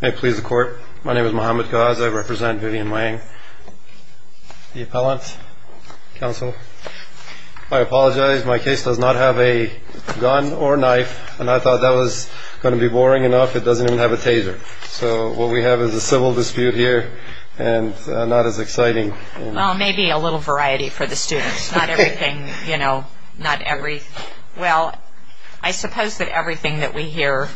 May it please the Court, my name is Muhammad Ghaz, I represent Vivian Wang, the appellant, counsel. I apologize, my case does not have a gun or knife, and I thought that was going to be boring enough, it doesn't even have a taser. So what we have is a civil dispute here, and not as exciting. Well, maybe a little variety for the students. Well, I suppose that everything that we hear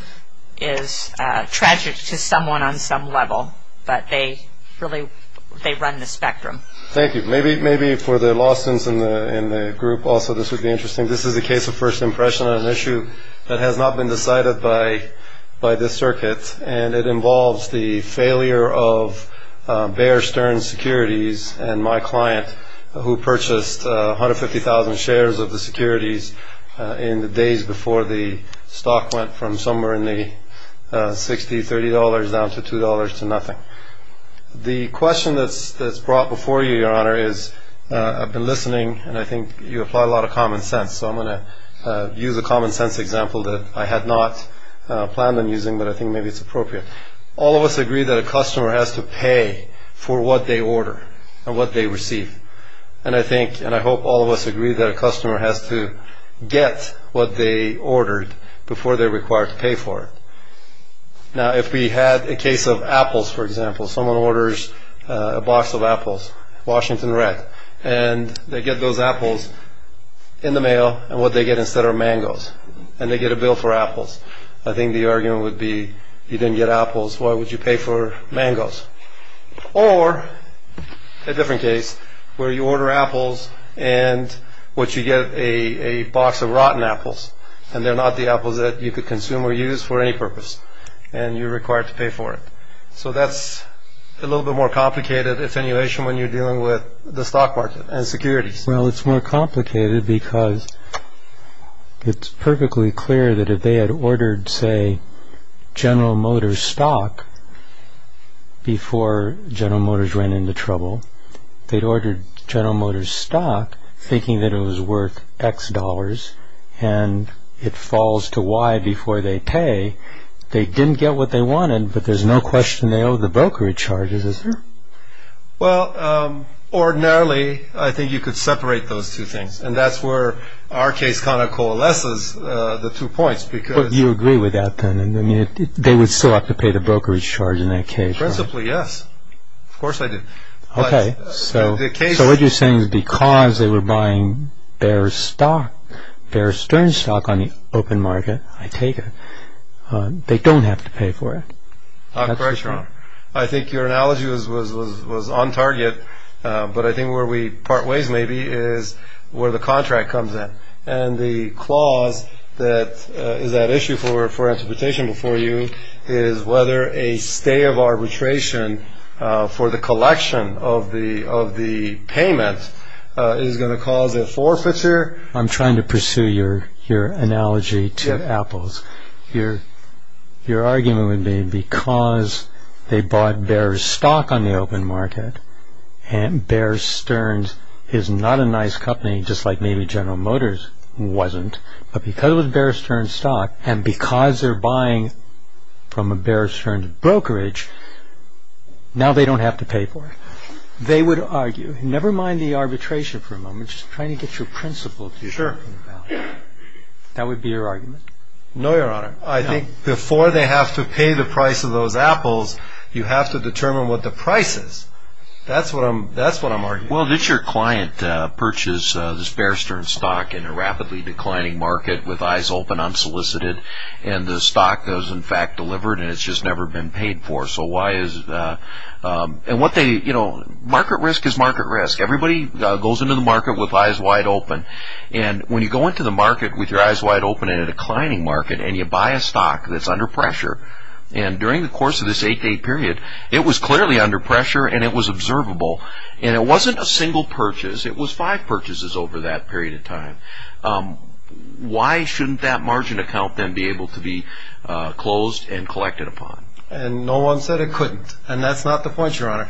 is tragic to someone on some level, but they run the spectrum. Thank you. Maybe for the law students in the group also this would be interesting. This is a case of first impression on an issue that has not been decided by this circuit, and it involves the failure of Bear Stearns Securities and my client who purchased 150,000 shares of the securities in the days before the stock went from somewhere in the $60, $30 down to $2 to nothing. The question that's brought before you, Your Honor, is I've been listening, and I think you apply a lot of common sense, so I'm going to use a common sense example that I had not planned on using, but I think maybe it's appropriate. All of us agree that a customer has to pay for what they order and what they receive, and I hope all of us agree that a customer has to get what they ordered before they're required to pay for it. Now, if we had a case of apples, for example, someone orders a box of apples, Washington Red, and they get those apples in the mail, and what they get instead are mangoes, and they get a bill for apples. I think the argument would be if you didn't get apples, why would you pay for mangoes? Or a different case where you order apples and what you get is a box of rotten apples, and they're not the apples that you could consume or use for any purpose, and you're required to pay for it. So that's a little bit more complicated attenuation when you're dealing with the stock market and securities. Well, it's more complicated because it's perfectly clear that if they had ordered, say, General Motors stock before General Motors ran into trouble, they'd ordered General Motors stock thinking that it was worth X dollars, and it falls to Y before they pay. They didn't get what they wanted, but there's no question they owe the brokerage charges, is there? Well, ordinarily, I think you could separate those two things, and that's where our case kind of coalesces the two points. But you agree with that, then? I mean, they would still have to pay the brokerage charge in that case. Principally, yes. Of course they do. So what you're saying is because they were buying Bear's stock, Bear Stearns stock on the open market, I take it, they don't have to pay for it. I think your analogy was on target, but I think where we part ways, maybe, is where the contract comes in. And the clause that is at issue for interpretation before you is whether a stay of arbitration for the collection of the payment is going to cause a forfeiture. I'm trying to pursue your analogy to Apple's. Your argument would be because they bought Bear's stock on the open market, and Bear Stearns is not a nice company, just like maybe General Motors wasn't, but because it was Bear Stearns stock, and because they're buying from a Bear Stearns brokerage, now they don't have to pay for it. They would argue, never mind the arbitration for a moment, just trying to get your principles. That would be your argument? No, Your Honor. I think before they have to pay the price of those apples, you have to determine what the price is. That's what I'm arguing. Well, did your client purchase this Bear Stearns stock in a rapidly declining market with eyes open unsolicited, and the stock was in fact delivered and it's just never been paid for? Market risk is market risk. Everybody goes into the market with eyes wide open. When you go into the market with your eyes wide open in a declining market and you buy a stock that's under pressure, and during the course of this eight-day period, it was clearly under pressure and it was observable, and it wasn't a single purchase, it was five purchases over that period of time. Why shouldn't that margin account then be able to be closed and collected upon? And no one said it couldn't, and that's not the point, Your Honor.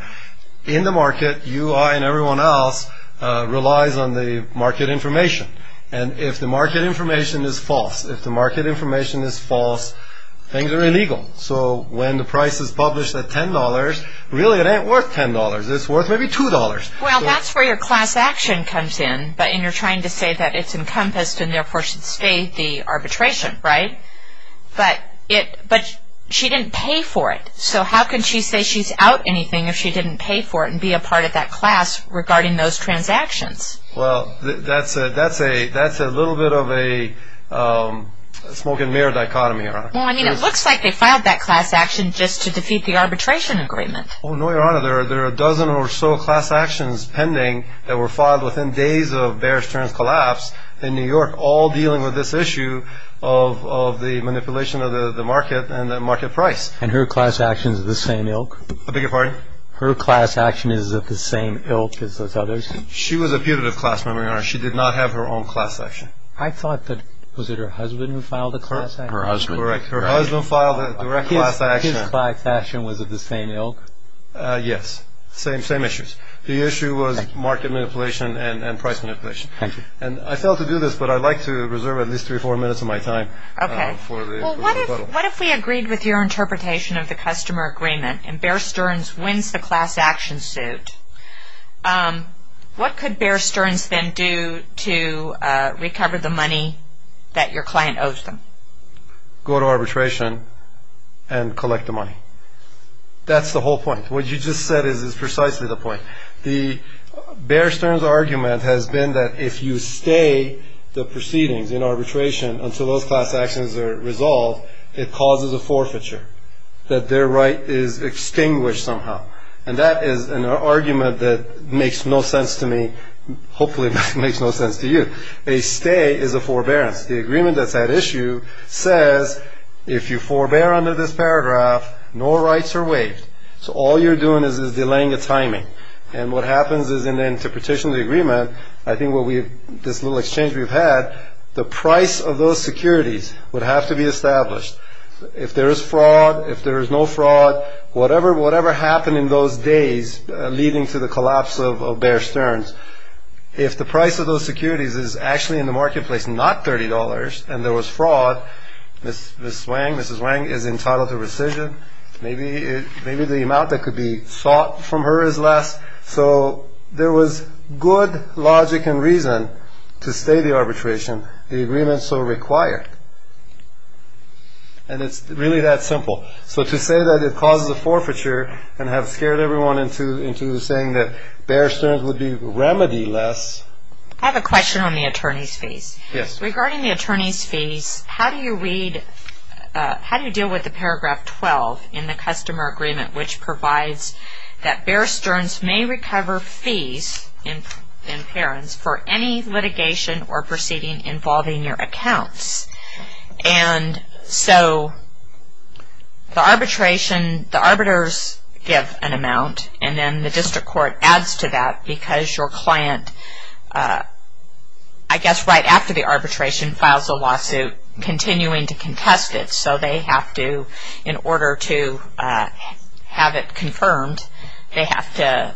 In the market, you and everyone else relies on the market information, and if the market information is false, if the market information is false, things are illegal. So when the price is published at $10, really it ain't worth $10, it's worth maybe $2. Well, that's where your class action comes in, and you're trying to say that it's encompassed and therefore should stay the arbitration, right? But she didn't pay for it, so how can she say she's out anything if she didn't pay for it and be a part of that class regarding those transactions? Well, that's a little bit of a smoke-and-mirror dichotomy, Your Honor. Well, I mean, it looks like they filed that class action just to defeat the arbitration agreement. Oh, no, Your Honor. There are a dozen or so class actions pending that were filed within days of Bear Stearns' collapse in New York, all dealing with this issue of the manipulation of the market and the market price. And her class action is the same ilk? I beg your pardon? Her class action is the same ilk as those others? She was a putative class member, Your Honor. She did not have her own class action. I thought that, was it her husband who filed the class action? Her husband. Her husband filed a direct class action. His class action was of the same ilk? Yes. Same issues. The issue was market manipulation and price manipulation. Thank you. And I failed to do this, but I'd like to reserve at least three or four minutes of my time for the rebuttal. Okay. Well, what if we agreed with your interpretation of the customer agreement and Bear Stearns wins the class action suit, what could Bear Stearns then do to recover the money that your client owes them? Go to arbitration and collect the money. That's the whole point. What you just said is precisely the point. Bear Stearns' argument has been that if you stay the proceedings in arbitration until those class actions are resolved, it causes a forfeiture, that their right is extinguished somehow. And that is an argument that makes no sense to me, hopefully makes no sense to you. A stay is a forbearance. The agreement that's at issue says if you forbear under this paragraph, no rights are waived. So all you're doing is delaying the timing. And what happens is in the interpretation of the agreement, I think this little exchange we've had, the price of those securities would have to be established. If there is fraud, if there is no fraud, whatever happened in those days leading to the collapse of Bear Stearns, if the price of those securities is actually in the marketplace not $30 and there was fraud, Mrs. Wang is entitled to rescission. Maybe the amount that could be sought from her is less. So there was good logic and reason to stay the arbitration, the agreement so required. And it's really that simple. So to say that it causes a forfeiture and have scared everyone into saying that Bear Stearns would be remedy-less. I have a question on the attorney's fees. Yes. Regarding the attorney's fees, how do you deal with the paragraph 12 in the customer agreement which provides that Bear Stearns may recover fees in parents for any litigation or proceeding involving your accounts? And so the arbitration, the arbiters give an amount and then the district court adds to that because your client, I guess right after the arbitration, files a lawsuit continuing to contest it. So they have to, in order to have it confirmed, they have to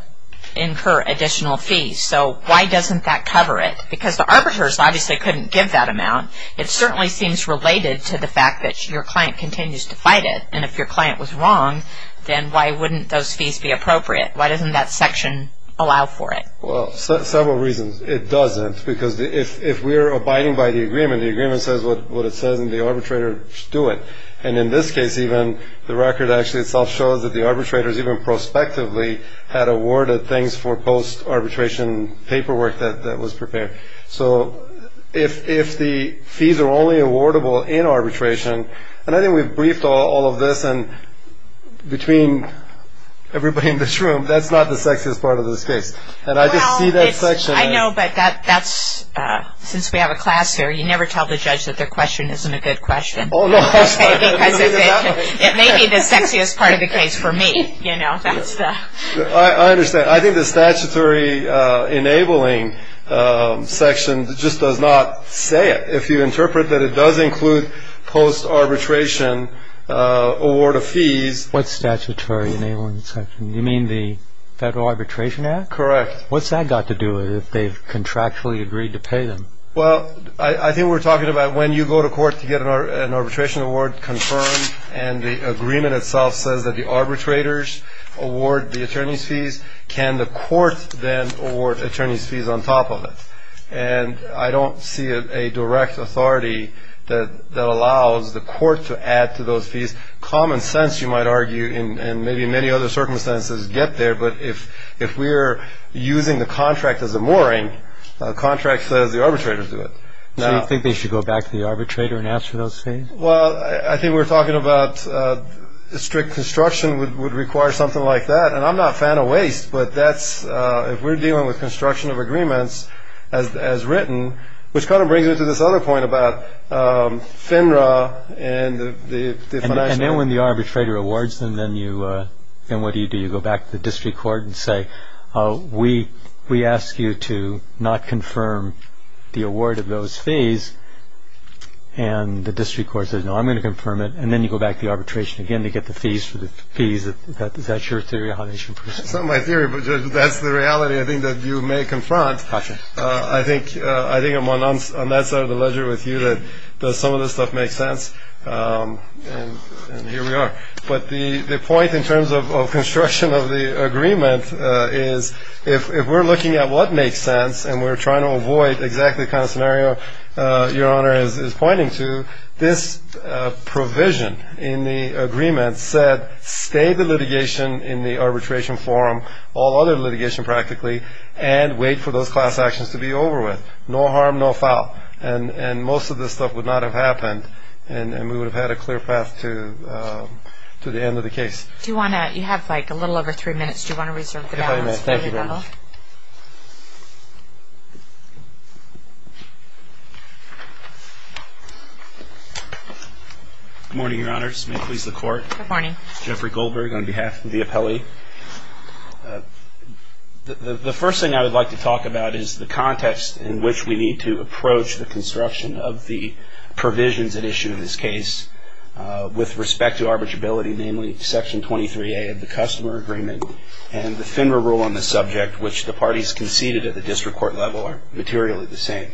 incur additional fees. So why doesn't that cover it? Because the arbiters obviously couldn't give that amount. It certainly seems related to the fact that your client continues to fight it. And if your client was wrong, then why wouldn't those fees be appropriate? Why doesn't that section allow for it? Well, several reasons. It doesn't because if we're abiding by the agreement, the agreement says what it says and the arbitrators do it. And in this case even, the record actually itself shows that the arbitrators even prospectively had awarded things for post-arbitration paperwork that was prepared. So if the fees are only awardable in arbitration, and I think we've briefed all of this, and between everybody in this room, that's not the sexiest part of this case. And I just see that section. Well, I know, but since we have a class here, you never tell the judge that their question isn't a good question. Oh, no, of course not. Because it may be the sexiest part of the case for me. I understand. I think the statutory enabling section just does not say it. If you interpret that it does include post-arbitration award of fees. What statutory enabling section? You mean the Federal Arbitration Act? Correct. What's that got to do with it if they've contractually agreed to pay them? Well, I think we're talking about when you go to court to get an arbitration award confirmed and the agreement itself says that the arbitrators award the attorney's fees, can the court then award attorney's fees on top of it? And I don't see a direct authority that allows the court to add to those fees. Common sense, you might argue, and maybe many other circumstances get there, but if we're using the contract as a mooring, the contract says the arbitrators do it. So you think they should go back to the arbitrator and ask for those fees? Well, I think we're talking about strict construction would require something like that, and I'm not a fan of waste, but if we're dealing with construction of agreements as written, which kind of brings me to this other point about FINRA and the financial. And then when the arbitrator awards them, then what do you do? You go back to the district court and say, we ask you to not confirm the award of those fees, and the district court says, no, I'm going to confirm it, and then you go back to the arbitration again to get the fees for the fees. Is that your theory of how they should proceed? It's not my theory, but that's the reality I think that you may confront. I think I'm on that side of the ledger with you that some of this stuff makes sense, and here we are. But the point in terms of construction of the agreement is if we're looking at what makes sense and we're trying to avoid exactly the kind of scenario Your Honor is pointing to, this provision in the agreement said stay the litigation in the arbitration forum, all other litigation practically, and wait for those class actions to be over with, no harm, no foul. And most of this stuff would not have happened, and we would have had a clear path to the end of the case. Do you want to, you have like a little over three minutes. Do you want to reserve the balance? Thank you very much. Good morning, Your Honors. May it please the Court. Good morning. Jeffrey Goldberg on behalf of the appellee. The first thing I would like to talk about is the context in which we need to approach the construction of the provisions at issue in this case with respect to arbitrability, namely section 23A of the customer agreement and the FINRA rule on the subject, which the parties conceded at the district court level are materially the same.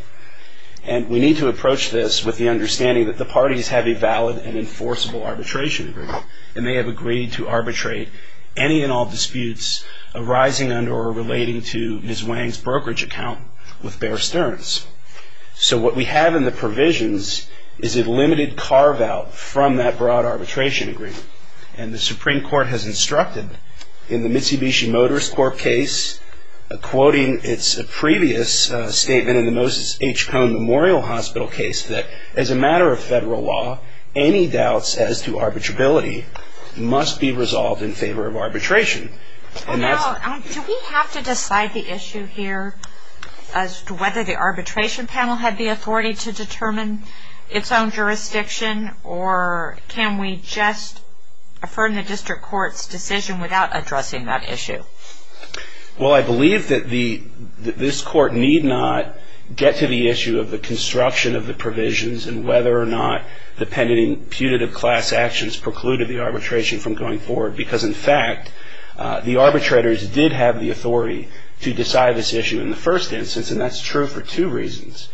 And we need to approach this with the understanding that the parties have a valid and enforceable arbitration agreement, and they have agreed to arbitrate any and all disputes arising under or relating to Ms. Wang's brokerage account with Bear Stearns. So what we have in the provisions is a limited carve-out from that broad arbitration agreement. And the Supreme Court has instructed in the Mitsubishi Motors Corp case, quoting its previous statement in the Moses H. Cone Memorial Hospital case, that as a matter of federal law, any doubts as to arbitrability must be resolved in favor of arbitration. Do we have to decide the issue here as to whether the arbitration panel had the authority to determine its own jurisdiction, or can we just affirm the district court's decision without addressing that issue? Well, I believe that this court need not get to the issue of the construction of the provisions and whether or not dependent imputative class actions precluded the arbitration from going forward, because, in fact, the arbitrators did have the authority to decide this issue in the first instance, and that's true for two reasons.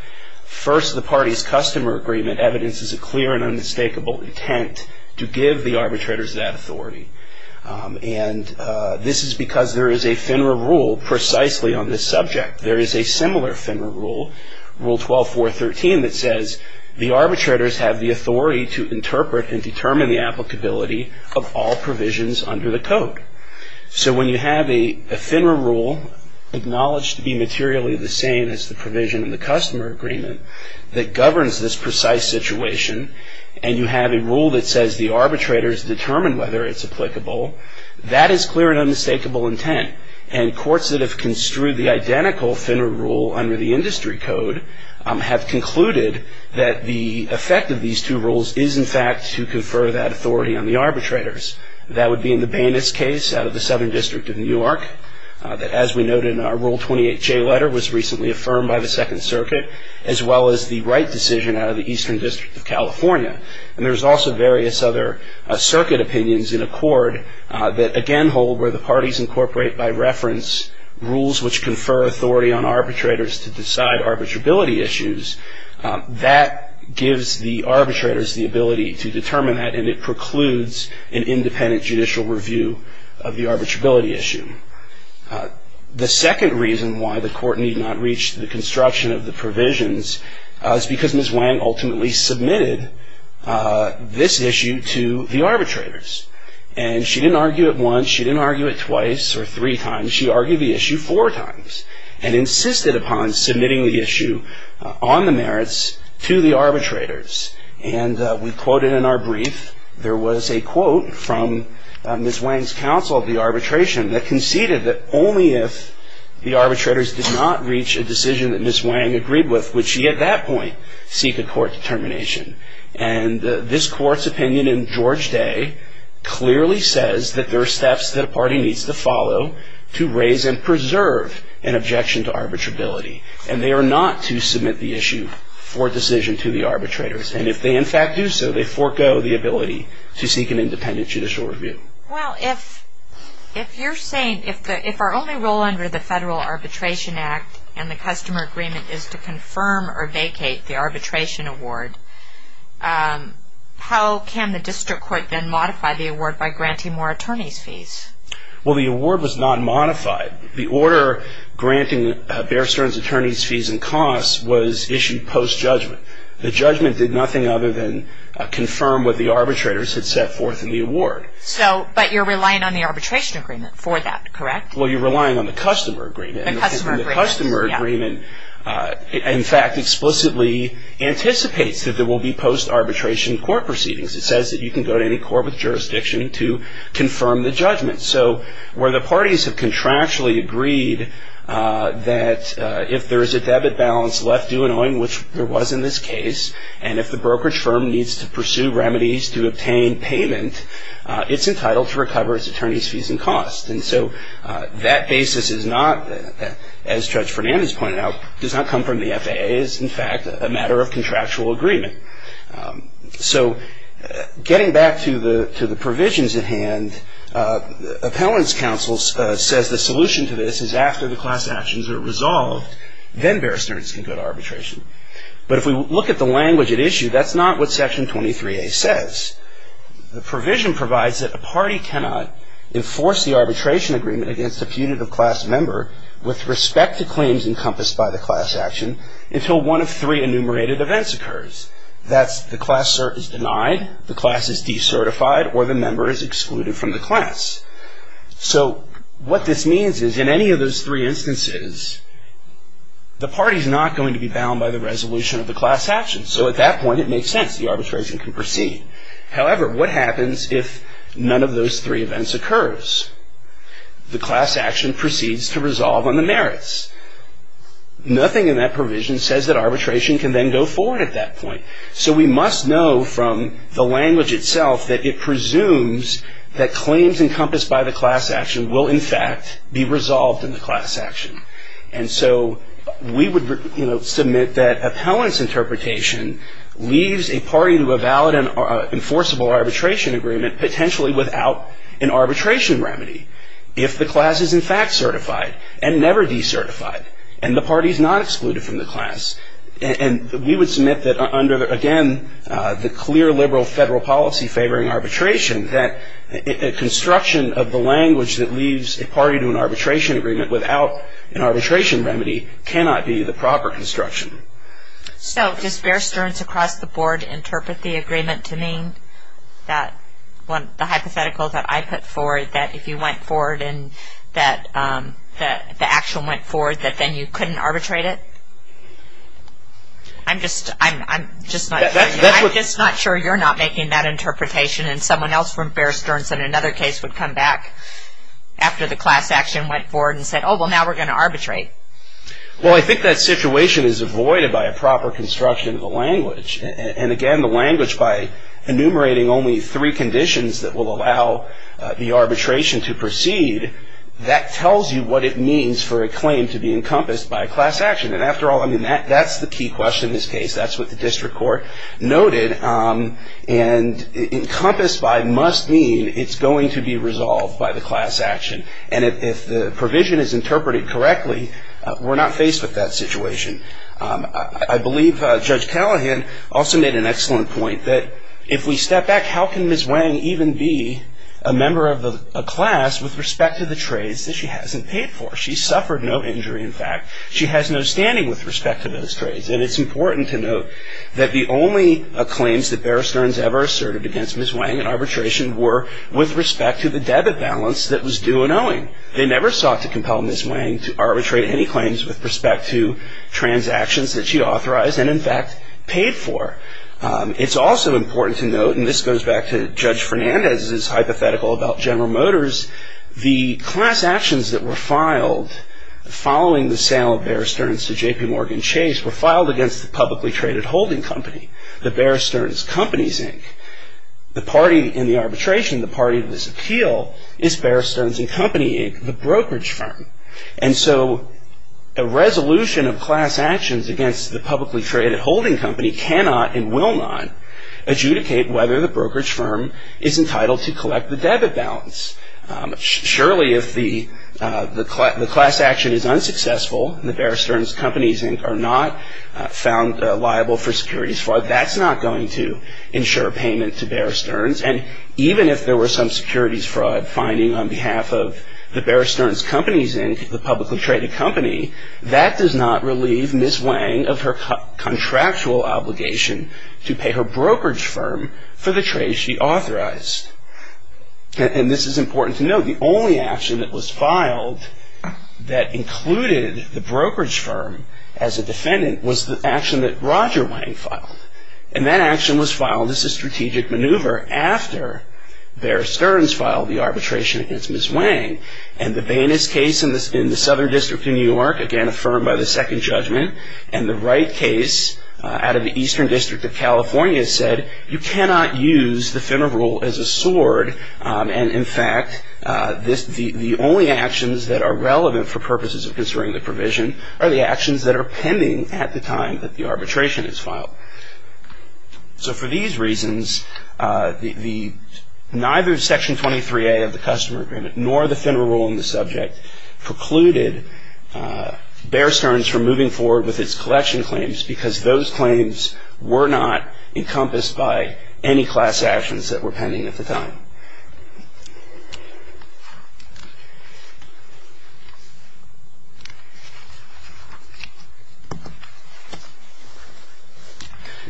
First, the parties' customer agreement evidences a clear and unmistakable intent to give the arbitrators that authority. And this is because there is a FINRA rule precisely on this subject. There is a similar FINRA rule, Rule 12.4.13, that says the arbitrators have the authority to interpret and determine the applicability of all provisions under the Code. So when you have a FINRA rule acknowledged to be materially the same as the provision in the customer agreement that governs this precise situation, and you have a rule that says the arbitrators determine whether it's applicable, that is clear and unmistakable intent. And courts that have construed the identical FINRA rule under the Industry Code have concluded that the effect of these two rules is, in fact, to confer that authority on the arbitrators. That would be in the Bainis case out of the Southern District of Newark, that, as we noted in our Rule 28J letter, was recently affirmed by the Second Circuit, as well as the Wright decision out of the Eastern District of California. And there's also various other circuit opinions in accord that, again, hold where the parties incorporate, by reference, rules which confer authority on arbitrators to decide arbitrability issues. That gives the arbitrators the ability to determine that, and it precludes an independent judicial review of the arbitrability issue. The second reason why the court need not reach the construction of the provisions is because Ms. Wang ultimately submitted this issue to the arbitrators. And she didn't argue it once, she didn't argue it twice or three times, she argued the issue four times, and insisted upon submitting the issue on the merits to the arbitrators. And we quoted in our brief, there was a quote from Ms. Wang's counsel of the arbitration that conceded that only if the arbitrators did not reach a decision that Ms. Wang agreed with, would she, at that point, seek a court determination. And this court's opinion in George Day clearly says that there are steps that a party needs to follow to raise and preserve an objection to arbitrability. And they are not to submit the issue for decision to the arbitrators. And if they, in fact, do so, they forego the ability to seek an independent judicial review. Well, if you're saying, if our only role under the Federal Arbitration Act and the customer agreement is to confirm or vacate the arbitration award, how can the district court then modify the award by granting more attorney's fees? Well, the award was not modified. The order granting Bear Stearns attorney's fees and costs was issued post-judgment. The judgment did nothing other than confirm what the arbitrators had set forth in the award. But you're relying on the arbitration agreement for that, correct? Well, you're relying on the customer agreement. And the customer agreement, in fact, explicitly anticipates that there will be post-arbitration court proceedings. It says that you can go to any court with jurisdiction to confirm the judgment. So where the parties have contractually agreed that if there is a debit balance left due knowing which there was in this case, and if the brokerage firm needs to pursue remedies to obtain payment, it's entitled to recover its attorney's fees and costs. And so that basis is not, as Judge Fernandez pointed out, does not come from the FAA. It is, in fact, a matter of contractual agreement. So getting back to the provisions at hand, Appellant's counsel says the solution to this is after the class actions are resolved, then Bear Stearns can go to arbitration. But if we look at the language at issue, that's not what Section 23A says. The provision provides that a party cannot enforce the arbitration agreement against a putative class member with respect to claims encompassed by the class action until one of three enumerated events occurs. That's the class is denied, the class is decertified, or the member is excluded from the class. So what this means is in any of those three instances, the party is not going to be bound by the resolution of the class action. So at that point, it makes sense. The arbitration can proceed. However, what happens if none of those three events occurs? The class action proceeds to resolve on the merits. Nothing in that provision says that arbitration can then go forward at that point. So we must know from the language itself that it presumes that claims encompassed by the class action will, in fact, be resolved in the class action. And so we would submit that Appellant's interpretation leaves a party to a valid and enforceable arbitration agreement potentially without an arbitration remedy if the class is, in fact, certified and never decertified and the party is not excluded from the class. And we would submit that under, again, the clear liberal federal policy favoring arbitration, that a construction of the language that leaves a party to an arbitration agreement without an arbitration remedy cannot be the proper construction. So does Bear Stearns across the board interpret the agreement to mean that the hypothetical that I put forward that if you went forward and that the action went forward that then you couldn't arbitrate it? I'm just not sure you're not making that interpretation and someone else from Bear Stearns in another case would come back after the class action went forward and said, oh, well, now we're going to arbitrate. Well, I think that situation is avoided by a proper construction of the language. And again, the language by enumerating only three conditions that will allow the arbitration to proceed, that tells you what it means for a claim to be encompassed by a class action. And after all, I mean, that's the key question in this case. That's what the district court noted. And encompassed by must mean it's going to be resolved by the class action. And if the provision is interpreted correctly, we're not faced with that situation. I believe Judge Callahan also made an excellent point that if we step back, how can Ms. Wang even be a member of a class with respect to the trades that she hasn't paid for? She suffered no injury, in fact. She has no standing with respect to those trades. And it's important to note that the only claims that Bear Stearns ever asserted against Ms. Wang in arbitration were with respect to the debit balance that was due an owing. They never sought to compel Ms. Wang to arbitrate any claims with respect to transactions that she authorized and, in fact, paid for. It's also important to note, and this goes back to Judge Fernandez's hypothetical about General Motors, the class actions that were filed following the sale of Bear Stearns to J.P. Morgan Chase were filed against the publicly traded holding company, the Bear Stearns Companies, Inc. The party in the arbitration, the party to this appeal, is Bear Stearns and Company, Inc., the brokerage firm. And so a resolution of class actions against the publicly traded holding company cannot and will not adjudicate whether the brokerage firm is entitled to collect the debit balance. Surely if the class action is unsuccessful and the Bear Stearns Companies, Inc. are not found liable for securities fraud, that's not going to ensure payment to Bear Stearns. And even if there were some securities fraud finding on behalf of the Bear Stearns Companies, Inc., the publicly traded company, that does not relieve Ms. Wang of her contractual obligation to pay her brokerage firm for the trade she authorized. And this is important to note. The only action that was filed that included the brokerage firm as a defendant was the action that Roger Wang filed. And that action was filed as a strategic maneuver after Bear Stearns filed the arbitration against Ms. Wang. And the Bayness case in the Southern District of New York, again affirmed by the second judgment, and the Wright case out of the Eastern District of California said, you cannot use the FINRA rule as a sword. And in fact, the only actions that are relevant for purposes of concerning the provision are the actions that are pending at the time that the arbitration is filed. So for these reasons, neither Section 23A of the Customer Agreement nor the FINRA rule in the subject precluded Bear Stearns from moving forward with its collection claims because those claims were not encompassed by any class actions that were pending at the time.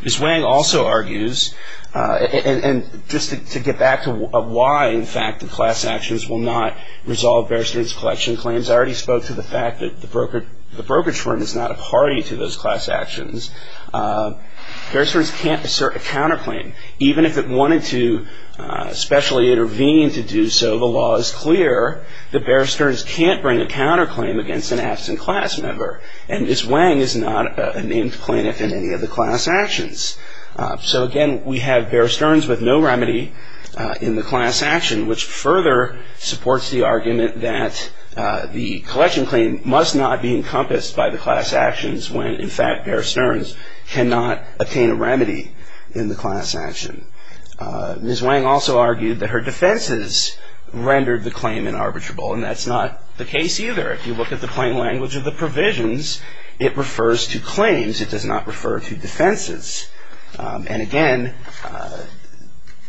Ms. Wang also argues, and just to get back to why, in fact, the class actions will not resolve Bear Stearns' collection claims, I already spoke to the fact that the brokerage firm is not a party to those class actions. Bear Stearns can't assert a counterclaim. Even if it wanted to specially intervene to do so, the law is clear that Bear Stearns can't bring a counterclaim against an absent class member. And Ms. Wang is not a named plaintiff in any of the class actions. So again, we have Bear Stearns with no remedy in the class action, which further supports the argument that the collection claim must not be encompassed by the class actions when, in fact, Bear Stearns cannot attain a remedy in the class action. Ms. Wang also argued that her defenses rendered the claim unarbitrable, and that's not the case either. If you look at the plain language of the provisions, it refers to claims. It does not refer to defenses. And again,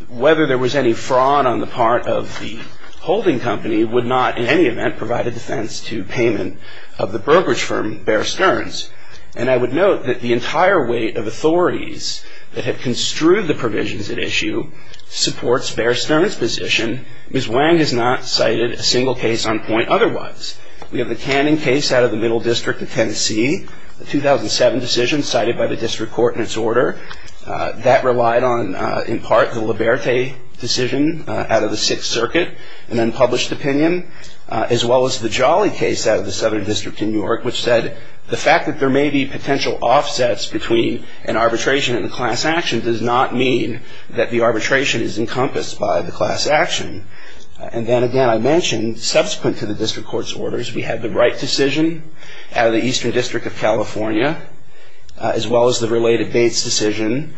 whether there was any fraud on the part of the holding company would not in any event provide a defense to payment of the brokerage firm Bear Stearns. And I would note that the entire weight of authorities that have construed the provisions at issue supports Bear Stearns' position. Ms. Wang has not cited a single case on point otherwise. We have the Canning case out of the Middle District of Tennessee, the 2007 decision cited by the district court in its order. That relied on, in part, the Liberte decision out of the Sixth Circuit, an unpublished opinion, as well as the Jolly case out of the Southern District in New York, which said the fact that there may be potential offsets between an arbitration and a class action does not mean that the arbitration is encompassed by the class action. And then again, I mentioned, subsequent to the district court's orders, we have the Wright decision out of the Eastern District of California, as well as the related Bates decision,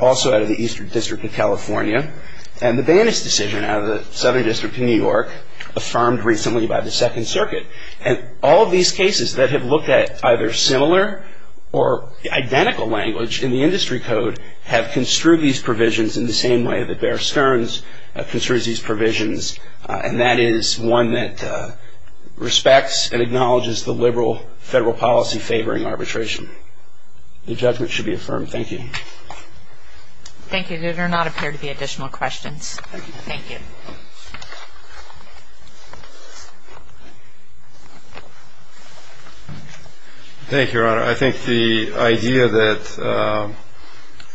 also out of the Eastern District of California, and the Banas decision out of the Southern District of New York, affirmed recently by the Second Circuit. And all of these cases that have looked at either similar or identical language in the industry code have construed these provisions in the same way that Bear Stearns construes these provisions, and that is one that respects and acknowledges the liberal federal policy favoring arbitration. The judgment should be affirmed. Thank you. Thank you. There do not appear to be additional questions. Thank you. Thank you. Thank you, Your Honor. I think the idea that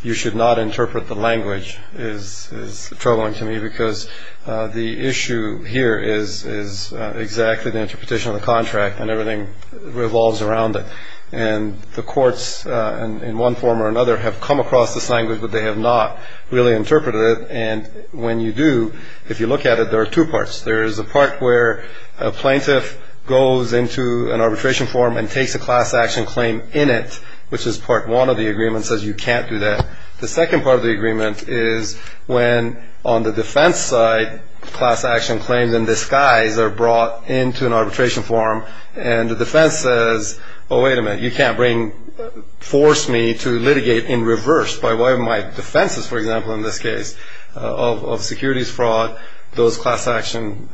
you should not interpret the language is troubling to me because the issue here is exactly the interpretation of the contract and everything revolves around it. And the courts in one form or another have come across this language, but they have not really interpreted it. And when you do, if you look at it, there are two parts. There is a part where a plaintiff goes into an arbitration form and takes a class action claim in it, which is part one of the agreement, says you can't do that. The second part of the agreement is when, on the defense side, class action claims in disguise are brought into an arbitration form and the defense says, oh, wait a minute, you can't force me to litigate in reverse, by way of my defenses, for example, in this case, of securities fraud, those class action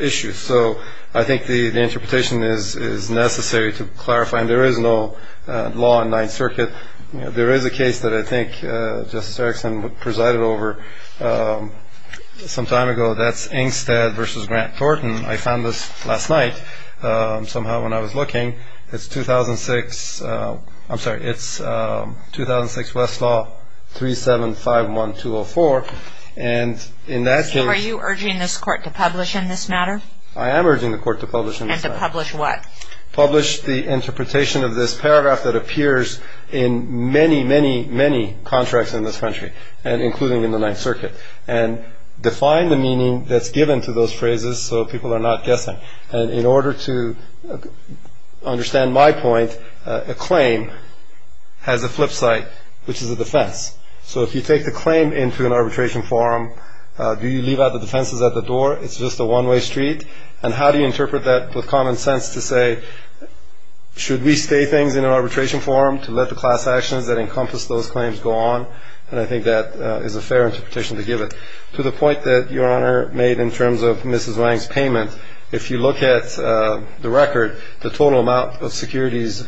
issues. So I think the interpretation is necessary to clarify, and there is no law in Ninth Circuit. There is a case that I think Justice Erickson presided over some time ago. That's Ingstad v. Grant Thornton. I found this last night somehow when I was looking. It's 2006, I'm sorry, it's 2006 Westlaw 3751204, and in that case. So are you urging this court to publish in this matter? I am urging the court to publish in this matter. And to publish what? Publish the interpretation of this paragraph that appears in many, many, many contracts in this country, including in the Ninth Circuit, and define the meaning that's given to those phrases so people are not guessing. And in order to understand my point, a claim has a flip side, which is a defense. So if you take the claim into an arbitration form, do you leave out the defenses at the door? It's just a one-way street. And how do you interpret that with common sense to say, should we say things in an arbitration form to let the class actions that encompass those claims go on? And I think that is a fair interpretation to give it. To the point that Your Honor made in terms of Mrs. Wang's payment, if you look at the record, the total amount of securities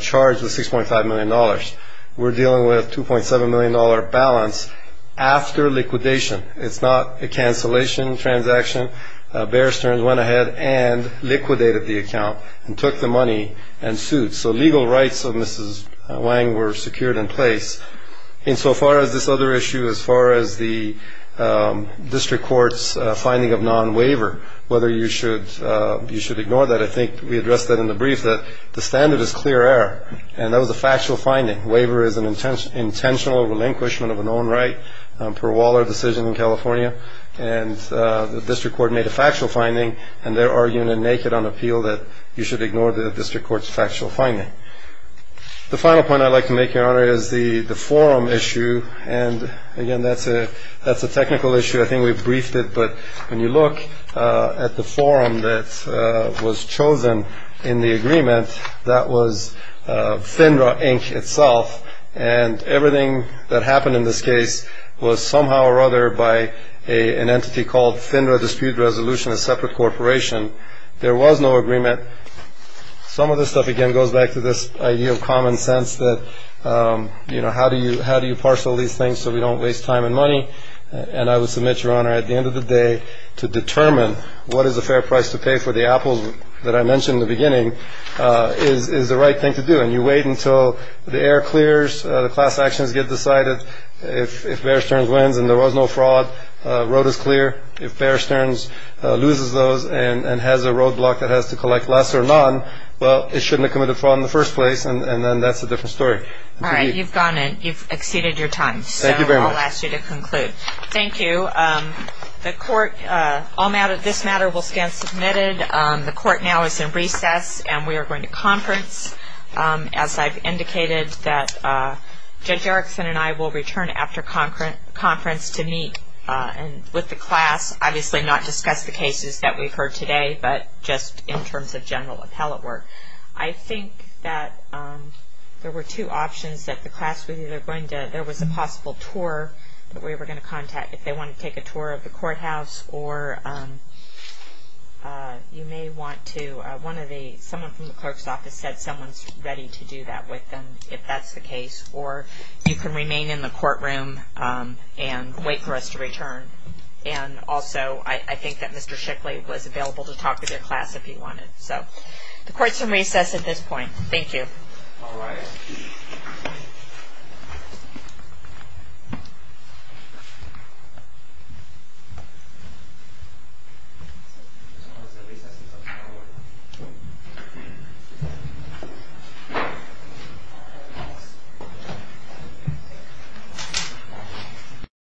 charged was $6.5 million. We're dealing with a $2.7 million balance after liquidation. It's not a cancellation transaction. Bear Stearns went ahead and liquidated the account and took the money and sued. So legal rights of Mrs. Wang were secured in place. And so far as this other issue, as far as the district court's finding of non-waiver, whether you should ignore that, I think we addressed that in the brief, that the standard is clear error. And that was a factual finding. Waiver is an intentional relinquishment of an own right per Waller decision in California. And the district court made a factual finding. And they're arguing it naked on appeal that you should ignore the district court's factual finding. The final point I'd like to make, Your Honor, is the forum issue. And, again, that's a technical issue. I think we've briefed it. But when you look at the forum that was chosen in the agreement, that was FINRA, Inc., itself. And everything that happened in this case was somehow or other by an entity called FINRA Dispute Resolution, a separate corporation. There was no agreement. Some of this stuff, again, goes back to this idea of common sense that, you know, how do you parcel these things so we don't waste time and money? And I would submit, Your Honor, at the end of the day, to determine what is a fair price to pay for the apples that I mentioned in the beginning is the right thing to do. And you wait until the air clears, the class actions get decided. If Bear Stearns wins and there was no fraud, road is clear. If Bear Stearns loses those and has a roadblock that has to collect less or none, well, it shouldn't have committed fraud in the first place. And then that's a different story. All right. You've gone in. You've exceeded your time. Thank you very much. So I'll ask you to conclude. Thank you. The court, this matter will stand submitted. The court now is in recess, and we are going to conference. As I've indicated, Judge Erickson and I will return after conference to meet with the class, obviously not discuss the cases that we've heard today, but just in terms of general appellate work. I think that there were two options that the class, whether they're going to, there was a possible tour that we were going to contact if they wanted to take a tour of the courthouse. Or you may want to, one of the, someone from the clerk's office said someone's ready to do that with them, if that's the case. Or you can remain in the courtroom and wait for us to return. And also, I think that Mr. Shickley was available to talk to the class if he wanted. So the court's in recess at this point. Thank you. All right.